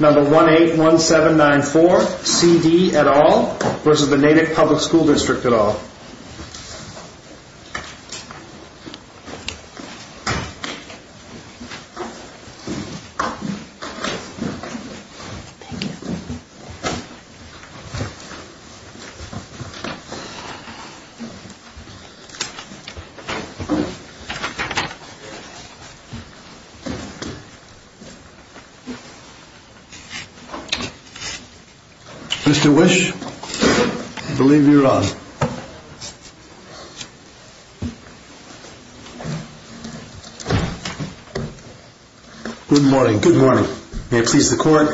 Number 181794, C.D. et al. v. Natick Public School District et al. Mr. Wisch, I believe you're on. Good morning. Good morning. May it please the Court,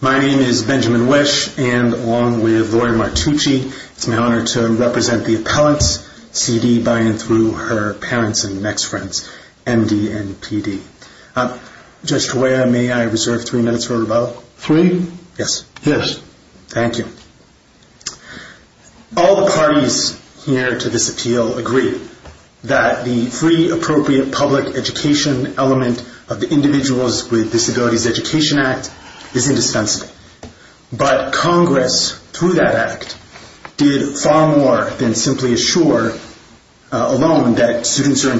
my name is Benjamin Wisch, and along with Laurie Martucci, it's my honor to represent the appellants, C.D. by and through her parents and ex-friends, M.D. and P.D. Judge Cuella, may I reserve three minutes for rebuttal? Three? Yes. Yes. Thank you. All the parties here to this appeal agree that the free, appropriate public education element of the Individuals with Disabilities Education Act is indispensable. But Congress, through that act, did far more than simply assure alone that students are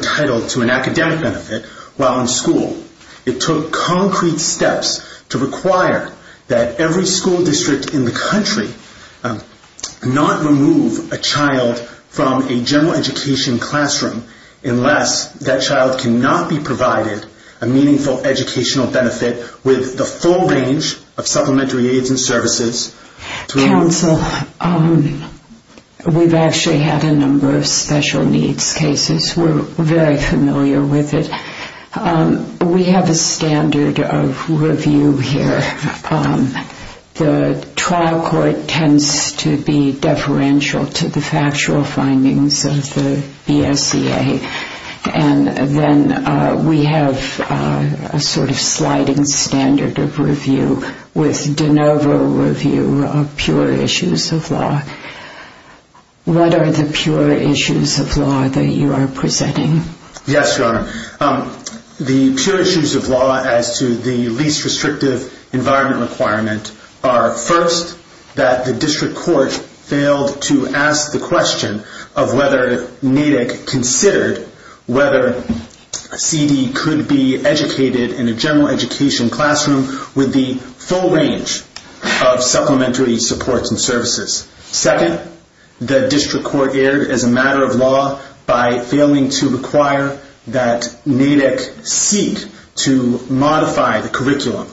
It took concrete steps to require that every school district in the country not remove a child from a general education classroom unless that child cannot be provided a meaningful educational benefit with the full range of supplementary aids and services. Counsel, we've actually had a number of special needs cases. We're very familiar with it. We have a standard of review here. The trial court tends to be deferential to the factual findings of the BSEA. And then we have a sort of sliding standard of review with de novo review of pure issues of law. What are the pure issues of law that you are presenting? Yes, Your Honor. The pure issues of law as to the least restrictive environment requirement are, first, that the district court failed to ask the question of whether NAIDC considered whether C.D. could be educated in a general education classroom with the full range of supplementary supports and services. Second, the district court erred as a matter of law by failing to require that NAIDC seek to modify the curriculum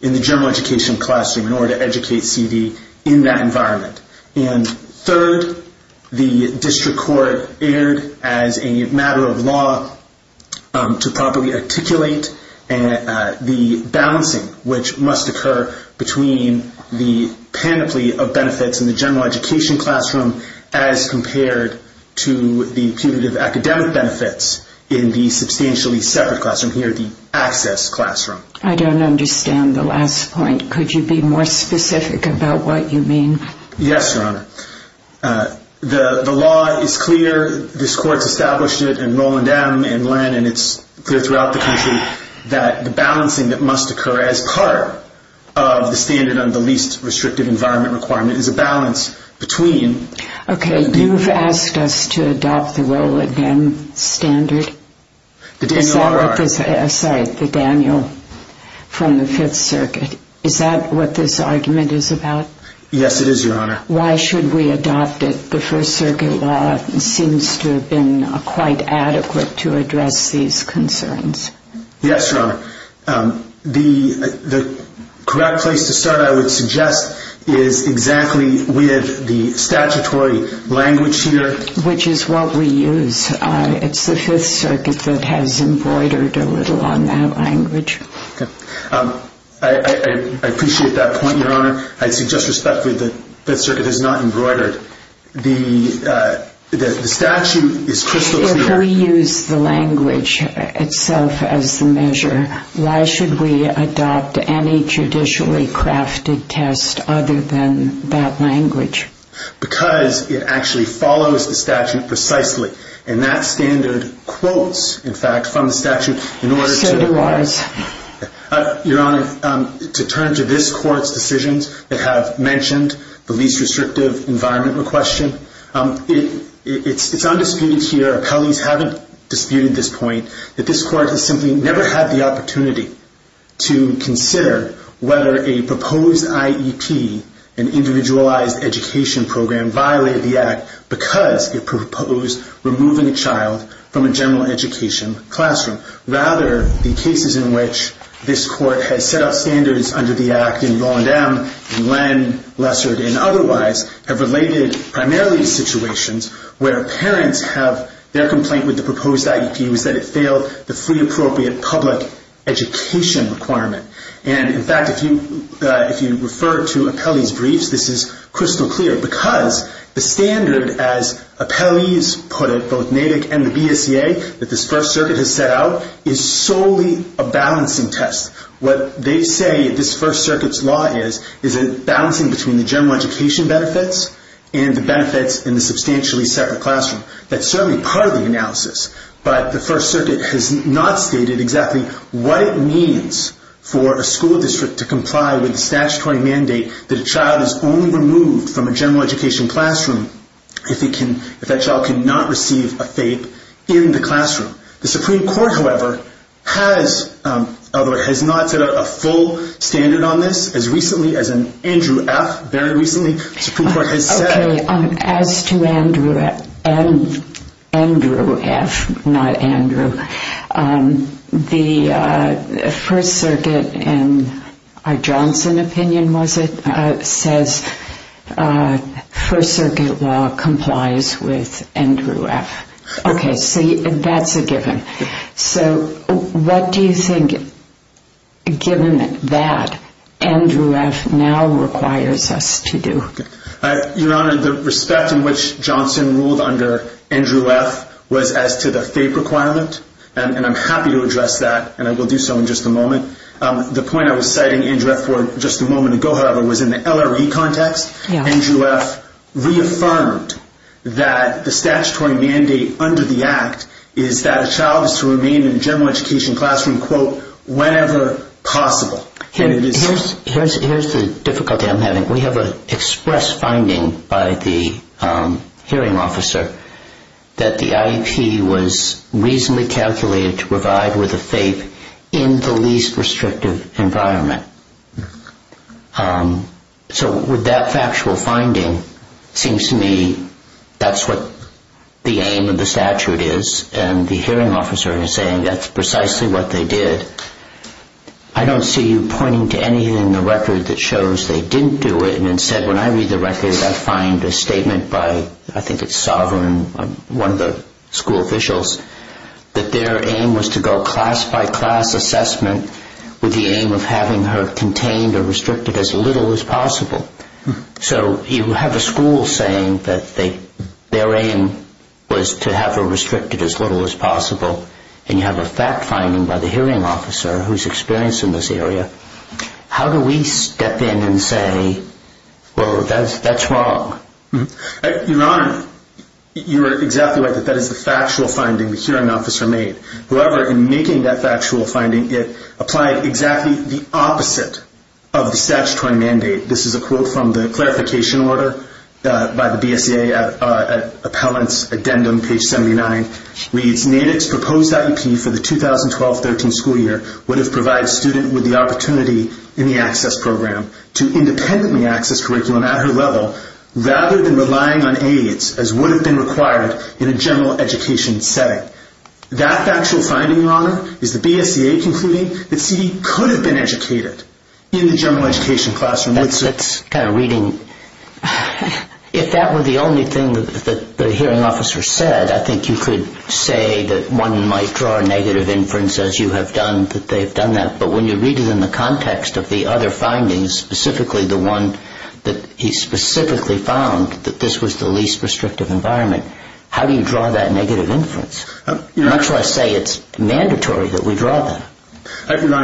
in the general education classroom in order to educate C.D. in that environment. And third, the district court erred as a matter of law to properly articulate the balancing which must occur between the panoply of benefits in the general education classroom as compared to the punitive academic benefits in the substantially separate classroom, here the access classroom. I don't understand the last point. Could you be more specific about what you mean? Yes, Your Honor. The law is clear. This court's established it, and Roland M. and Len, and it's clear throughout the country that the balancing that must occur as part of the standard on the least restrictive environment requirement is a balance between... Okay, you've asked us to adopt the Roland M. standard? The Daniel R.R. Sorry, the Daniel from the Fifth Circuit. Is that what this argument is about? Yes, it is, Your Honor. Why should we adopt it? The First Circuit law seems to have been quite adequate to address these concerns. Yes, Your Honor. The correct place to start, I would suggest, is exactly with the statutory language here. Which is what we use. It's the Fifth Circuit that has embroidered a little on that language. I appreciate that point, Your Honor. I'd suggest respectfully that the Fifth Circuit has not embroidered. The statute is crystal clear. We use the language itself as the measure. Why should we adopt any judicially crafted test other than that language? Because it actually follows the statute precisely. And that standard quotes, in fact, from the statute in order to... So do ours. Your Honor, to turn to this court's decisions that have mentioned the least restrictive environment requestion, it's undisputed here, appellees haven't disputed this point, that this court has simply never had the opportunity to consider whether a proposed IEP, an individualized education program, violated the Act because it proposed removing a child from a general education classroom. Rather, the cases in which this court has set up standards under the Act in Roland M., Lessard, and otherwise, have related primarily to situations where parents have their complaint with the proposed IEP was that it failed the free appropriate public education requirement. And in fact, if you refer to appellees' briefs, this is crystal clear because the standard, as appellees put it, both NAVIC and the BSEA, that this First Circuit has set out, is solely a balancing test. What they say this First Circuit's law is, is a balancing between the general education benefits and the benefits in the substantially separate classroom. That's certainly part of the analysis, but the First Circuit has not stated exactly what it means for a school district to comply with the statutory mandate that a child is only removed from a general education classroom if that child cannot receive a FAPE in the classroom. The Supreme Court, however, has, although it has not set out a full standard on this, as recently as an Andrew F., very recently, the Supreme Court has said... Okay, as to Andrew F., not Andrew, the First Circuit, in our Johnson opinion, was it, says First Circuit law complies with Andrew F. Okay, so that's a given. So what do you think, given that, Andrew F. now requires us to do? Your Honor, the respect in which Johnson ruled under Andrew F. was as to the FAPE requirement, and I'm happy to address that, and I will do so in just a moment. The point I was citing Andrew F. for just a moment ago, however, was in the LRE context. Andrew F. reaffirmed that the statutory mandate under the Act is that a child is to remain in a general education classroom, quote, whenever possible. Here's the difficulty I'm having. We have an express finding by the hearing officer that the IEP was reasonably calculated to provide with a FAPE in the least restrictive environment. So with that factual finding, it seems to me that's what the aim of the statute is, and the hearing officer is saying that's precisely what they did. I don't see you pointing to anything in the record that shows they didn't do it, and instead, when I read the record, I find a statement by, I think it's Sovereign, one of the school officials, that their aim was to go class by class assessment with the aim of having her contained or restricted as little as possible. So you have a school saying that their aim was to have her restricted as little as possible, and you have a fact finding by the hearing officer who's experienced in this area. How do we step in and say, well, that's wrong? Your Honor, you are exactly right that that is the factual finding the hearing officer made. However, in making that factual finding, it applied exactly the opposite of the statutory mandate. This is a quote from the clarification order by the BSEA appellant's addendum, page 79, reads, NADAC's proposed IEP for the 2012-13 school year would have provided students with the opportunity in the access program to independently access curriculum at her level rather than relying on aids as would have been required in a general education setting. That factual finding, Your Honor, is the BSEA concluding that C.D. could have been educated in the general education classroom. That's kind of reading. If that were the only thing that the hearing officer said, I think you could say that one might draw a negative inference, as you have done, that they've done that. But when you read it in the context of the other findings, specifically the one that he specifically found, that this was the least restrictive environment, how do you draw that negative inference? Much less say it's mandatory that we draw that.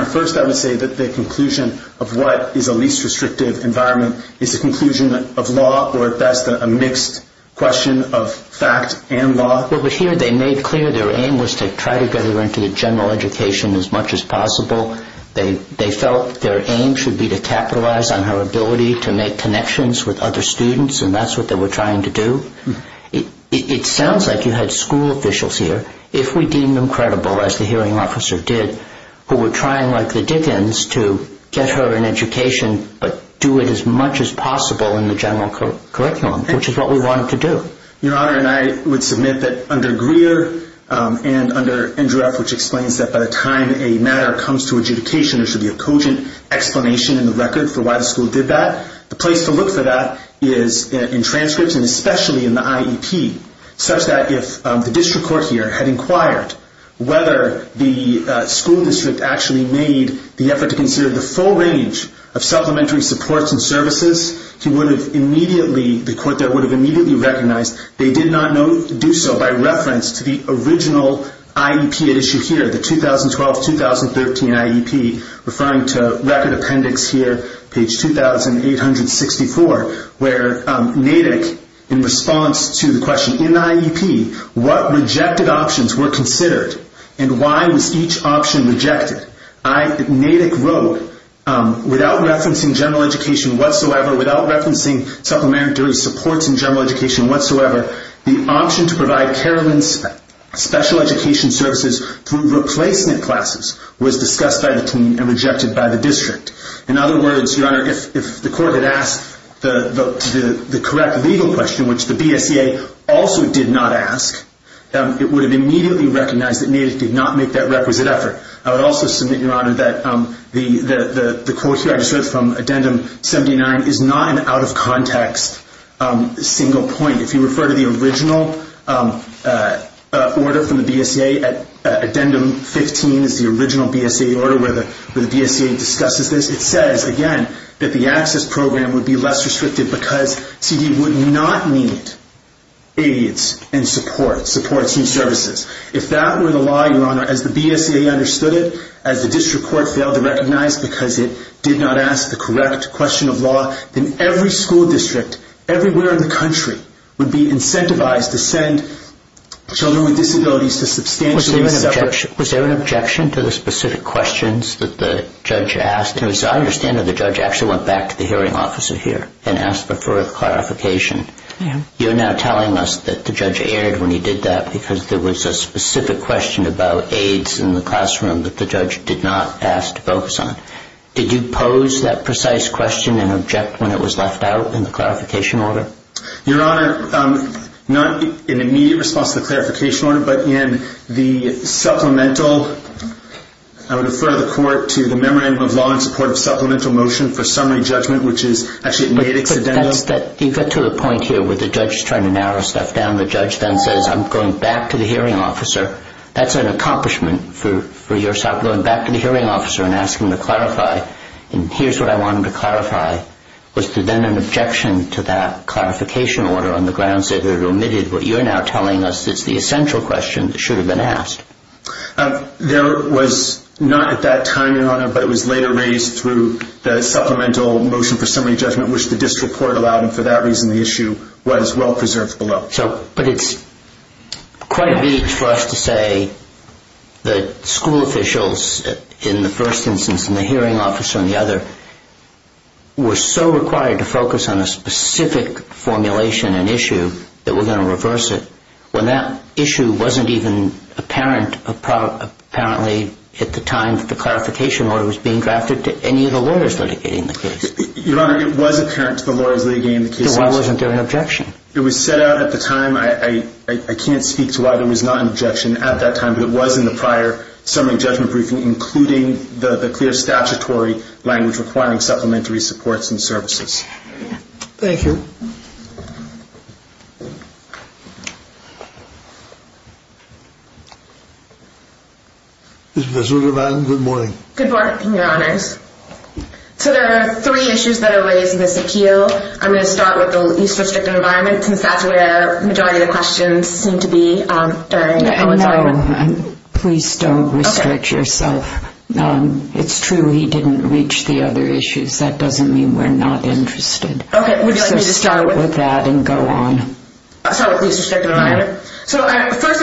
First, I would say that the conclusion of what is a least restrictive environment is the conclusion of law or, at best, a mixed question of fact and law. But here they made clear their aim was to try to get her into the general education as much as possible. They felt their aim should be to capitalize on her ability to make connections with other students, and that's what they were trying to do. It sounds like you had school officials here, if we deemed them credible, as the hearing officer did, who were trying like the Dickens to get her in education, but do it as much as possible in the general curriculum, which is what we wanted to do. Your Honor, and I would submit that under Greer and under Indureff, which explains that by the time a matter comes to adjudication, there should be a cogent explanation in the record for why the is in transcripts and especially in the IEP, such that if the district court here had inquired whether the school district actually made the effort to consider the full range of supplementary supports and services, the court there would have immediately recognized they did not do so by reference to the original IEP at issue here, the 2012-2013 IEP, referring to record appendix here, page 2864, where Natick, in response to the question, in the IEP, what rejected options were considered and why was each option rejected? Natick wrote, without referencing general education whatsoever, without referencing supplementary supports in general education whatsoever, the option to provide special education services through replacement classes was discussed by the team and rejected by the district. In other words, Your Honor, if the court had asked the correct legal question, which the BSEA also did not ask, it would have immediately recognized that Natick did not make that requisite effort. I would also submit, Your Honor, that the quote here I just read from addendum 79 is not an out-of-context single point. If you refer to the original order from the BSEA, addendum 15 is the original BSEA order where the BSEA discusses this, it says, again, that the access program would be less restrictive because CDE would not need aids and support, supports and services. If that were the law, Your Honor, as the BSEA understood it, as the district court failed to recognize because it did not ask the correct question of law, then every school district, everywhere in the country, would be incentivized to send children with disabilities to substantial Was there an objection to the specific questions that the judge asked? As I understand it, the judge actually went back to the hearing officer here and asked for a clarification. You're now telling us that the judge erred when he did that because there was a specific question about aids in the classroom that the judge did not ask to focus on. Did you pose that precise question and object when it was left out in the clarification order? Your Honor, not in immediate response to the clarification order, but in the supplemental, I would refer the court to the Memorandum of Law in support of supplemental motion for summary judgment, which is actually a native exedendum. You got to the point here where the judge is trying to narrow stuff down. The judge then says, I'm going back to the hearing officer. That's an accomplishment for yourself, going back to the hearing officer and asking to clarify. Here's what I wanted to clarify. Was there then an objection to that clarification order on the grounds that it omitted what you're now telling us is the essential question that should have been asked? There was not at that time, Your Honor, but it was later raised through the supplemental motion for summary judgment, which the district court allowed. And for that reason, the issue was well-preserved below. But it's quite vague for us to say that school officials, in the first instance, and the hearing officer, and the other, were so required to focus on a specific formulation and issue that we're going to reverse it, when that issue wasn't even apparent apparently at the time that the clarification order was being drafted to any of the lawyers litigating the case. Your Honor, it was apparent to the lawyers litigating the case. Then why wasn't there an objection? It was set out at the time. I can't speak to why there was not an objection at that time, but it was in the prior summary judgment briefing, including the clear statutory language requiring supplementary supports and services. Thank you. Ms. Rueger-Mann, good morning. Good morning, Your Honors. So there are three issues that are raised in this appeal. I'm going to start with the least restrictive environment, since that's where the majority of the questions seem to be. No, please don't restrict yourself. It's true he didn't reach the other issues. That doesn't mean we're not interested. So start with that and go on. So first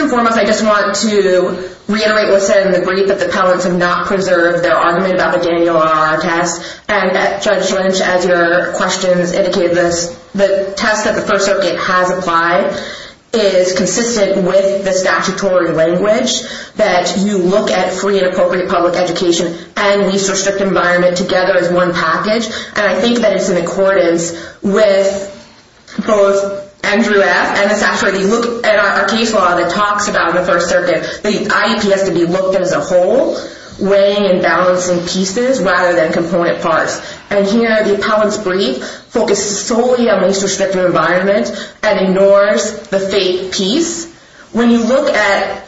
and foremost, I just want to reiterate what's said in the brief, that the appellants have not preserved their argument about the Daniel R. R. test. Judge Lynch, as your questions indicated, the test that the First Circuit has applied is consistent with the statutory language that you look at free and appropriate public education and least restrictive environment together as one package. And I think that it's in accordance with both Andrew F. and the statute. If you look at our case law that talks about the First Circuit, the IEP has to be looked at as a whole, weighing and balancing pieces rather than component parts. And here, the appellant's brief focuses solely on least restrictive environment and ignores the faith piece. When you look at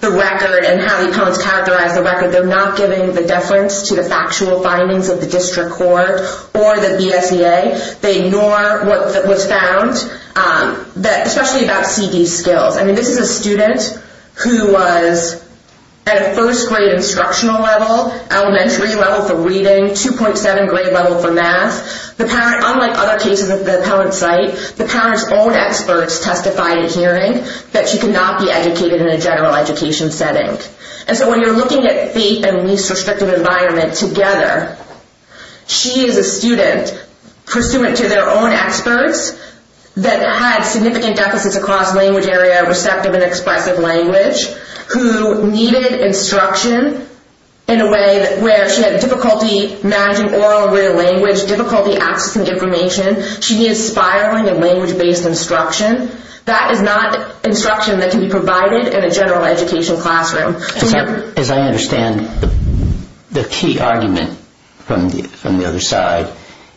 the record and how the appellants characterize the record, they're not giving the deference to the factual findings of the district court or the BSEA. They ignore what was found, especially about CV skills. I mean, this is a student who was at a first grade instructional level, elementary level for reading, 2.7 grade level for math. Unlike other cases at the appellant's site, the parent's own experts testified in a hearing that she could not be educated in a general education setting. And so when you're looking at faith and least restrictive environment together, she is a student pursuant to their own experts that had significant deficits across language area, receptive and expressive language, who needed instruction in a way where she had difficulty managing oral, real language, difficulty accessing information. She needs spiraling of language-based instruction. That is not instruction that can be provided in a general education classroom. As I understand, the key argument from the other side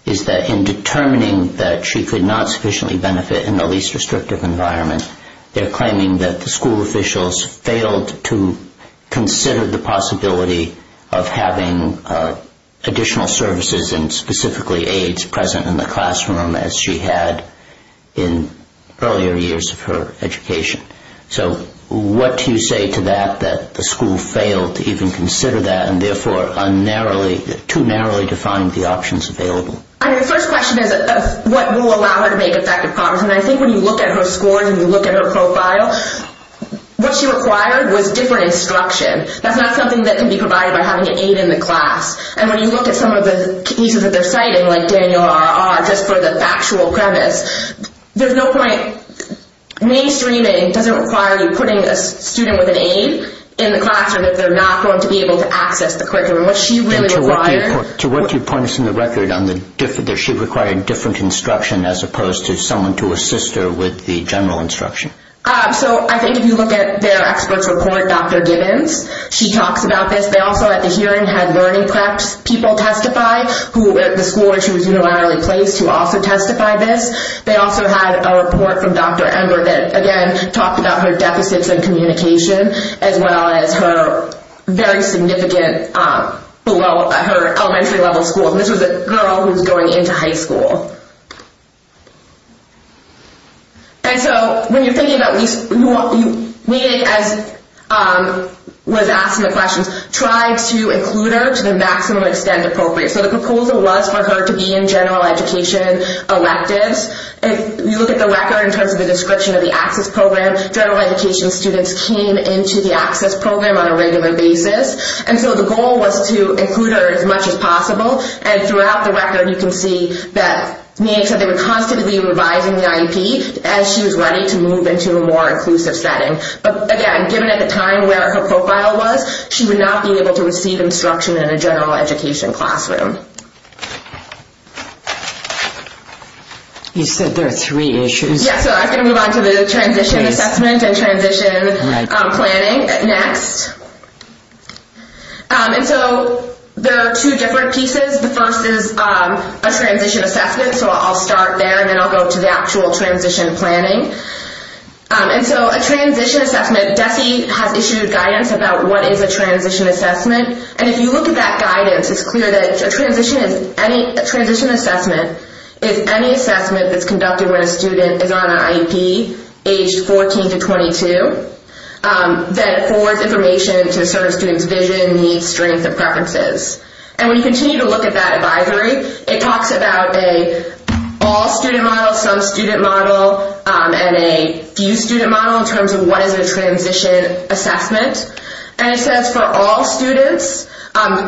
is that in determining that she could not sufficiently benefit in the least restrictive environment, they're claiming that the school officials failed to consider the possibility of having additional services and specifically aids present in the classroom as she had in earlier years of her education. So what do you say to that, that the school failed to even consider that and therefore too narrowly defined the options available? I mean, the first question is what will allow her to make effective progress. I think when you look at her scores and you look at her profile, what she required was different instruction. That's not something that can be provided by having an aid in the class. And when you look at some of the cases that they're citing, like Daniel R.R., just for the factual premise, there's no point. Mainstreaming doesn't require you putting a student with an aid in the classroom if they're not going to be able to access the curriculum. What she really required To what do you point us in the record on that she required different instruction as opposed to someone to assist her with the general instruction? So I think if you look at their experts report, Dr. Gibbons, she talks about this. They also at the hearing had learning prep people testify who at the school where she was unilaterally placed who also testified this. They also had a report from Dr. Ember that again talked about her deficits in communication as well as her very significant below her elementary level school. This was a girl who's going into high school. And so when you're thinking about this, we as was asking the questions, try to include her to the maximum extent appropriate. So the proposal was for her to be in general education electives. If you look at the record in terms of the description of the access program, general education students came into the access program on a regular basis. And so the goal was to include her as much as possible and throughout the year. You can see that they were constantly revising the IEP as she was ready to move into a more inclusive setting. But again, given at the time where her profile was, she would not be able to receive instruction in a general education classroom. You said there are three issues. Yes. So I can move on to the transition assessment and transition planning next. And so there are two different pieces. The first is a transition assessment. So I'll start there and then I'll go to the actual transition planning. And so a transition assessment, DECI has issued guidance about what is a transition assessment. And if you look at that guidance, it's clear that a transition assessment is any assessment that's conducted when a student is on vision, needs, strength, and preferences. And when you continue to look at that advisory, it talks about a all student model, some student model, and a few student model in terms of what is a transition assessment. And it says for all students,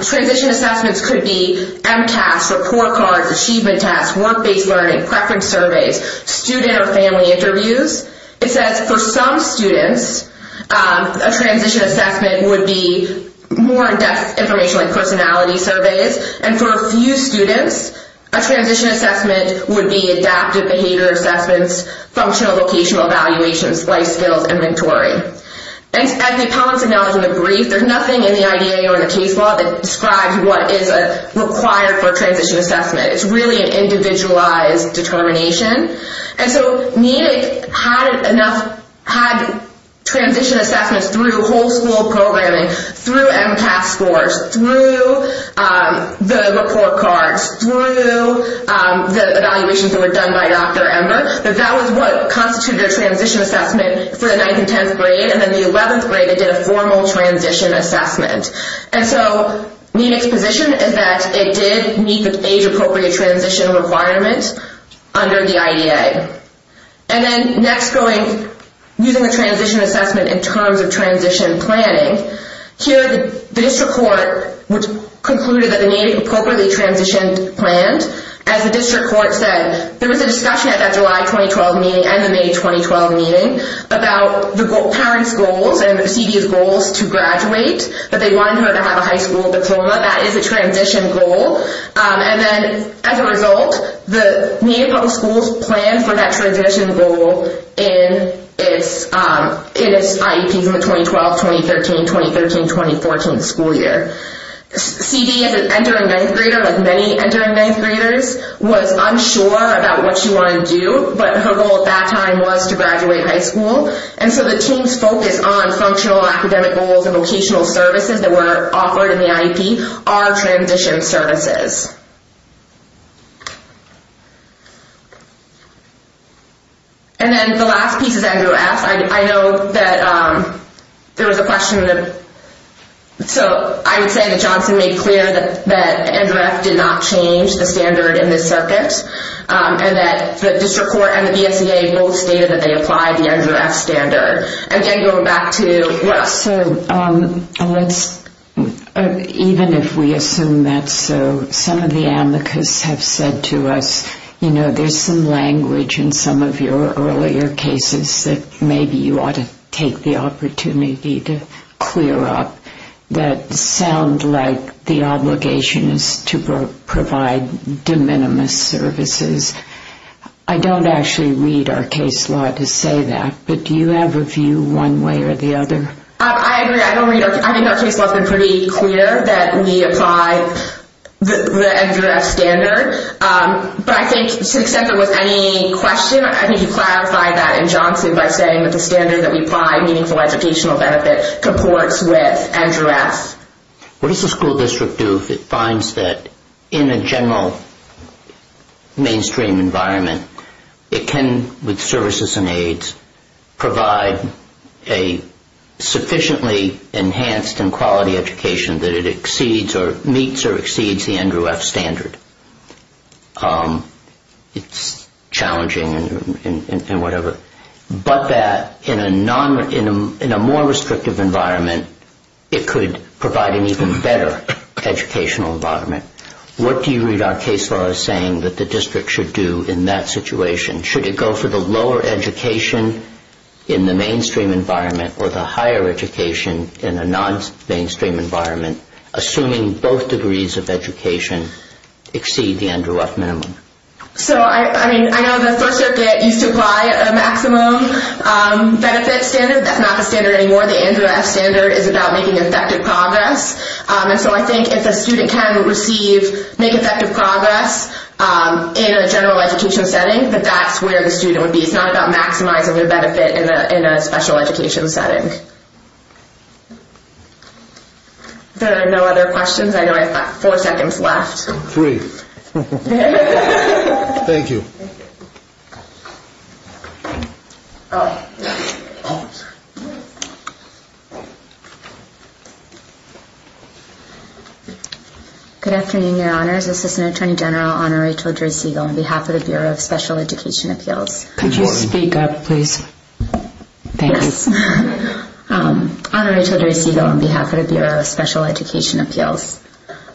transition assessments could be MCAS, report cards, achievement tests, work-based learning, preference surveys, student or family interviews. It says for some students, a transition assessment would be more in-depth information like personality surveys. And for a few students, a transition assessment would be adaptive behavior assessments, functional vocational evaluations, life skills, inventory. And as the appellants acknowledge in the brief, there's nothing in the IDA or in the case law that describes what is required for a transition assessment. It's really an individualized determination. And so NENIC had enough, had transition assessments through whole school programming, through MCAS scores, through the report cards, through the evaluations that were done by Dr. Ember, that that was what constituted a transition assessment for the 9th and 10th grade. And then the 11th grade, they did a formal transition assessment. And so NENIC's position is that it did meet the age-appropriate transition requirement under the IDA. And then next going, using the transition assessment in terms of transition planning, here the district court concluded that the NENIC appropriately transitioned planned. As the district court said, there was a discussion at that July 2012 meeting and the May 2012 meeting about the parents' goals and the CD's goals to graduate, but they wanted her to have a high school diploma. That is a transition goal. And then as a result, the Native Public Schools planned for that transition goal in its IEPs in the 2012, 2013, 2013, 2014 school year. CD, as an entering 9th grader, like many entering 9th graders, was unsure about what she wanted to do, but her goal at that time was to graduate high school. And so the team's focus on functional academic goals and the IEP are transition services. And then the last piece is NREF. I know that there was a question. So I would say that Johnson made clear that NREF did not change the standard in this circuit and that the district court and the BSEA both stated that they applied the NREF standard. And then going back to Russ. So even if we assume that's so, some of the amicus have said to us, you know, there's some language in some of your earlier cases that maybe you ought to take the opportunity to clear up that sound like the obligation is to provide de minimis services. I don't actually read our case law to say that, but do you have a view one way or the other? I agree. I think our case law has been pretty clear that we apply the NREF standard. But I think to the extent there was any question, I think you clarified that in Johnson by saying that the standard that we apply, meaningful educational benefit, comports with NREF. What does the school district do if it finds that in a general mainstream environment, it can, with services and aids, provide a sufficiently enhanced and quality education that it exceeds or meets or exceeds the NREF standard? It's challenging and whatever, but that in a more restrictive environment, it could provide an even better educational environment. What do you read our case law as saying that the district should do in that situation? Should it go for the lower education in the mainstream environment or the higher education in a non-mainstream environment, assuming both degrees of education exceed the NREF minimum? So, I mean, I know the first year that you supply a maximum benefit standard, that's not the standard anymore. The NREF standard is about making effective progress. And so I think if a student can receive, make effective progress in a general education setting, that that's where the student would be. It's not about maximizing the benefit in a special education setting. There are no other questions. I know I've got four seconds left. Three. Thank you. Good afternoon, Your Honors. Assistant Attorney General Honorary George Segal on behalf of the Bureau of Special Education Appeals. Could you speak up, please? Thanks. Honorary George Segal on behalf of the Bureau of Special Education Appeals.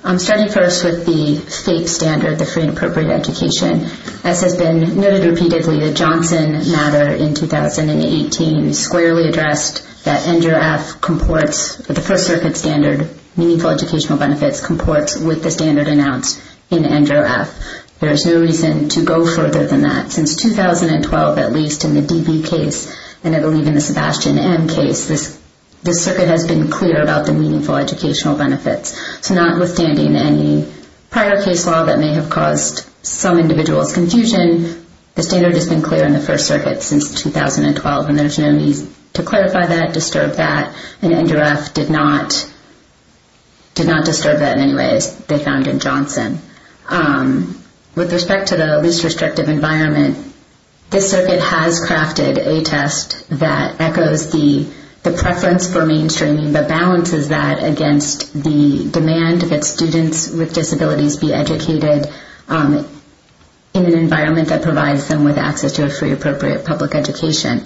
I'm starting first with the FAPE standard, the Free and Appropriate Education. As has been noted repeatedly, the Johnson matter in 2018 squarely addressed that NREF comports with the First Circuit standard, meaningful educational benefits comports with the standard announced in NREF. There is no reason to go further than that. Since 2012, at least in the DB case, and I believe in the Sebastian M case, this circuit has been clear about the meaningful educational benefits. So notwithstanding any prior case law that may have caused some individuals confusion, the standard has been clear in the First Circuit since 2012, and there's no need to clarify that, disturb that, and NREF did not disturb that in any way, they found in Johnson. With respect to the least restrictive environment, this circuit has crafted a test that echoes the preference for mainstreaming, but balances that against the demand that students with disabilities be educated in an environment that provides them with access to a free, appropriate public education.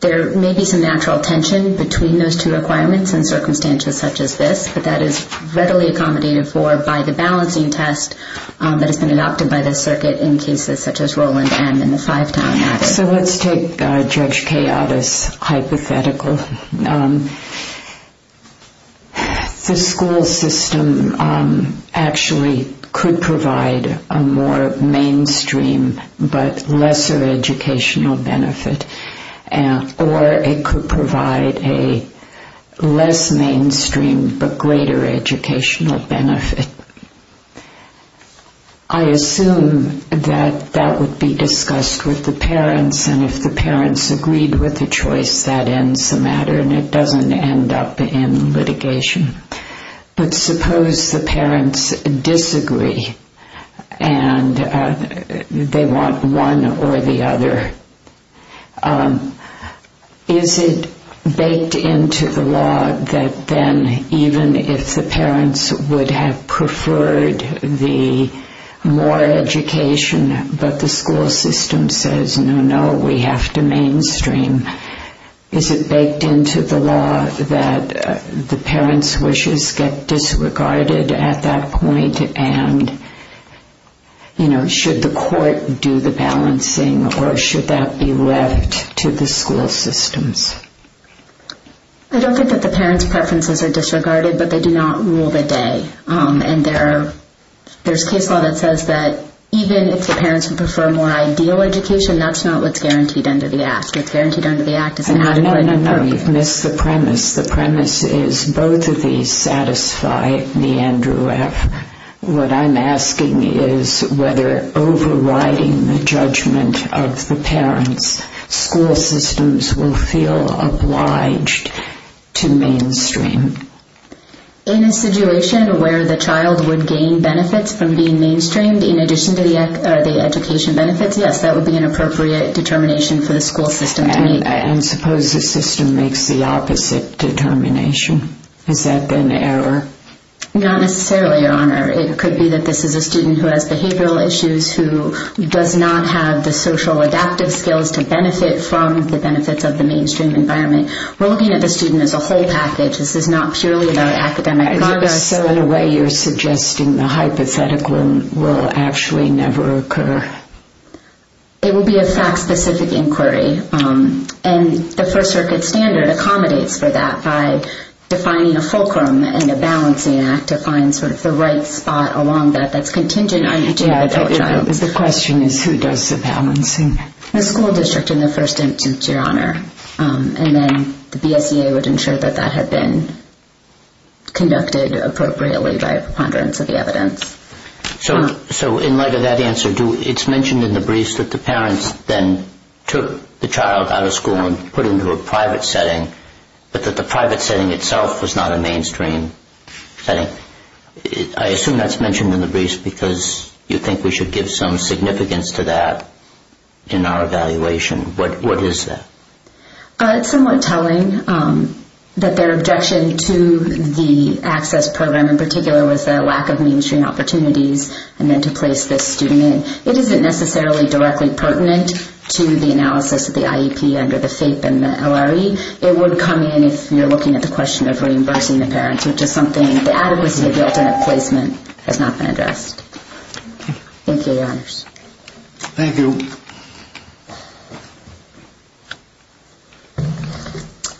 There may be some natural tension between those two requirements and circumstances such as this, but that is readily accommodated for by the balancing test that has been adopted by the circuit in cases such as Roland M. So let's take Judge Kayata's hypothetical. The school system actually could provide a more mainstream, but lesser educational benefit, or it could provide a less mainstream, but greater educational benefit. I assume that that would be discussed with the parents, and if the parents agreed with the choice, that ends the matter, and it doesn't end up in litigation. But suppose the parents disagree, and they want one or the other. Is it baked into the law that then, even if the parents would have preferred the more education, but the school system says, no, no, we have to mainstream, is it baked into the law that the parents' wishes get disregarded at that point, and, you know, should the court do the balancing, or should that be left to the school systems? I don't think that the parents' preferences are disregarded, but they do not rule the day, and there's case law that says that, even if the parents would prefer more ideal education, that's not what's guaranteed under the Act. What's guaranteed under the Act is an adequate... No, no, no, you've missed the premise. The premise is both of these satisfy me, Andrew F. What I'm asking is whether overriding the judgment of the parents, school systems will feel obliged to mainstream. In a situation where the child would gain benefits from being mainstreamed, in addition to the education benefits, yes, that would be an appropriate determination for the school system to make. And suppose the system makes the opposite determination? Has that been error? Not necessarily, Your Honor. It could be that this is a student who has behavioral issues, who does not have the social adaptive skills to benefit from the benefits of the mainstream environment. We're looking at the student as a whole package. This is not purely about academic progress. So, in a way, you're suggesting the hypothetical will actually never occur? It will be a fact-specific inquiry, and the First Circuit standard accommodates for that by defining a fulcrum and a balancing act to find sort of the right spot along that that's contingent on each individual child. The question is who does the balancing? The school district in the first instance, Your Honor. And then the BSEA would ensure that that had been conducted appropriately by a preponderance of the evidence. So, in light of that answer, it's mentioned in the briefs that the parents then took the child out of school and put into a private setting, but that the private setting itself was not a mainstream setting. I assume that's mentioned in the briefs because you think we should give some significance to that in our evaluation. What is that? It's somewhat telling that their objection to the access program in particular was the lack of mainstream opportunities and then to place this student in. It isn't necessarily directly pertinent to the analysis of the IEP under the FAPE and the LRE. It would come in if you're looking at the question of reimbursing the parents, which is something the adequacy of the alternate placement has not been addressed. Thank you, Your Honors. Thank you.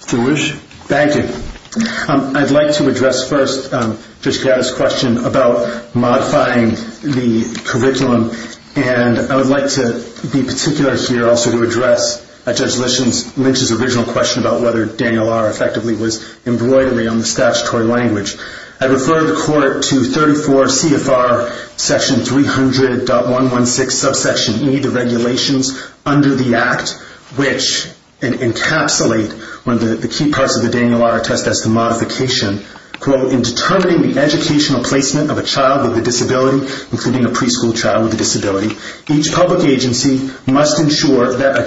Jewish? Thank you. I'd like to address first Judge Kiatta's question about modifying the curriculum. And I would like to be particular here also to address Judge Lynch's original question about whether Daniel R. effectively was embroidery on the statutory language. I refer the court to 34 CFR section 300.116 subsection E, the regulations under the act, which encapsulate one of the key parts of the Daniel R. test as the modification. Quote, in determining the educational placement of a child with a disability, including a preschool child with a disability, each public agency must ensure that a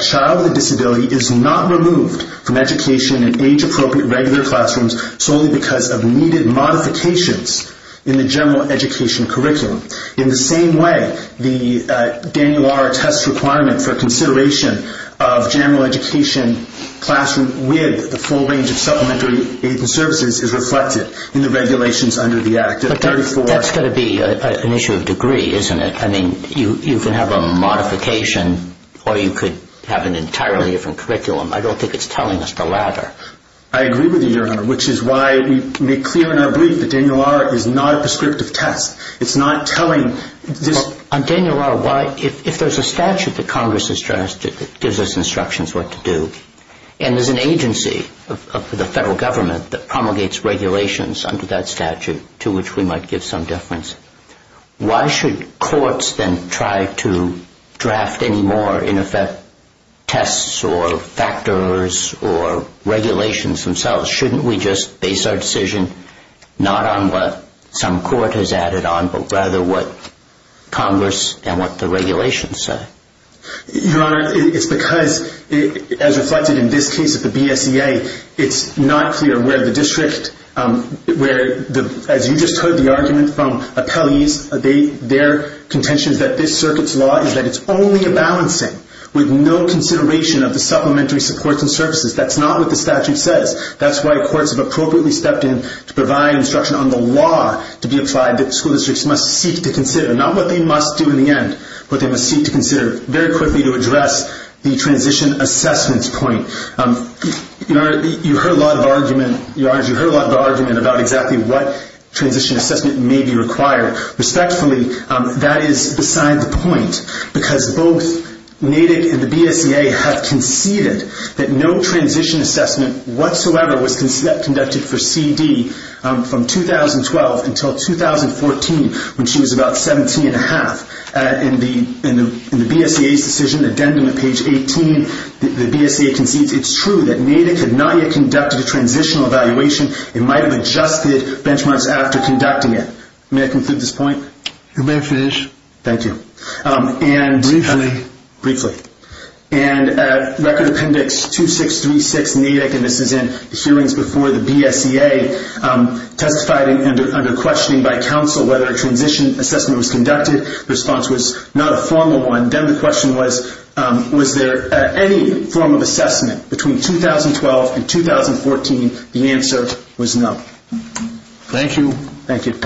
appropriate regular classrooms solely because of needed modifications in the general education curriculum. In the same way, the Daniel R. test requirement for consideration of general education classroom with the full range of supplementary aid and services is reflected in the regulations under the act. That's going to be an issue of degree, isn't it? I mean, you can have a modification or you could have an entirely different curriculum. I don't think it's telling us the latter. I agree with you, Your Honor, which is why we make clear in our belief that Daniel R. is not a prescriptive test. It's not telling. On Daniel R., why, if there's a statute that Congress has drafted that gives us instructions what to do, and there's an agency of the federal government that promulgates regulations under that in effect tests or factors or regulations themselves, shouldn't we just base our decision not on what some court has added on, but rather what Congress and what the regulations say? Your Honor, it's because, as reflected in this case at the BSEA, it's not clear where the district, where, as you just heard the argument from appellees, their contention is that this with no consideration of the supplementary supports and services. That's not what the statute says. That's why courts have appropriately stepped in to provide instruction on the law to be applied that school districts must seek to consider, not what they must do in the end, but they must seek to consider very quickly to address the transition assessments point. You heard a lot of argument, Your Honor, you heard a lot of argument about exactly what transition assessment may be required. Respectfully, that is beside the point, because both Natick and the BSEA have conceded that no transition assessment whatsoever was conducted for C.D. from 2012 until 2014, when she was about 17 and a half. In the BSEA's decision, addendum to page 18, the BSEA concedes it's true that Natick had not yet conducted a transitional evaluation and might have adjusted benchmarks after conducting it. May I conclude this point? You may finish. Thank you. Briefly. Record Appendix 2636 Natick, and this is in hearings before the BSEA, testified under questioning by counsel whether a transition assessment was conducted. The response was not a formal one. Then the question was, was there any form of assessment between 2012 and 2014? The answer was no. Thank you. Thank you.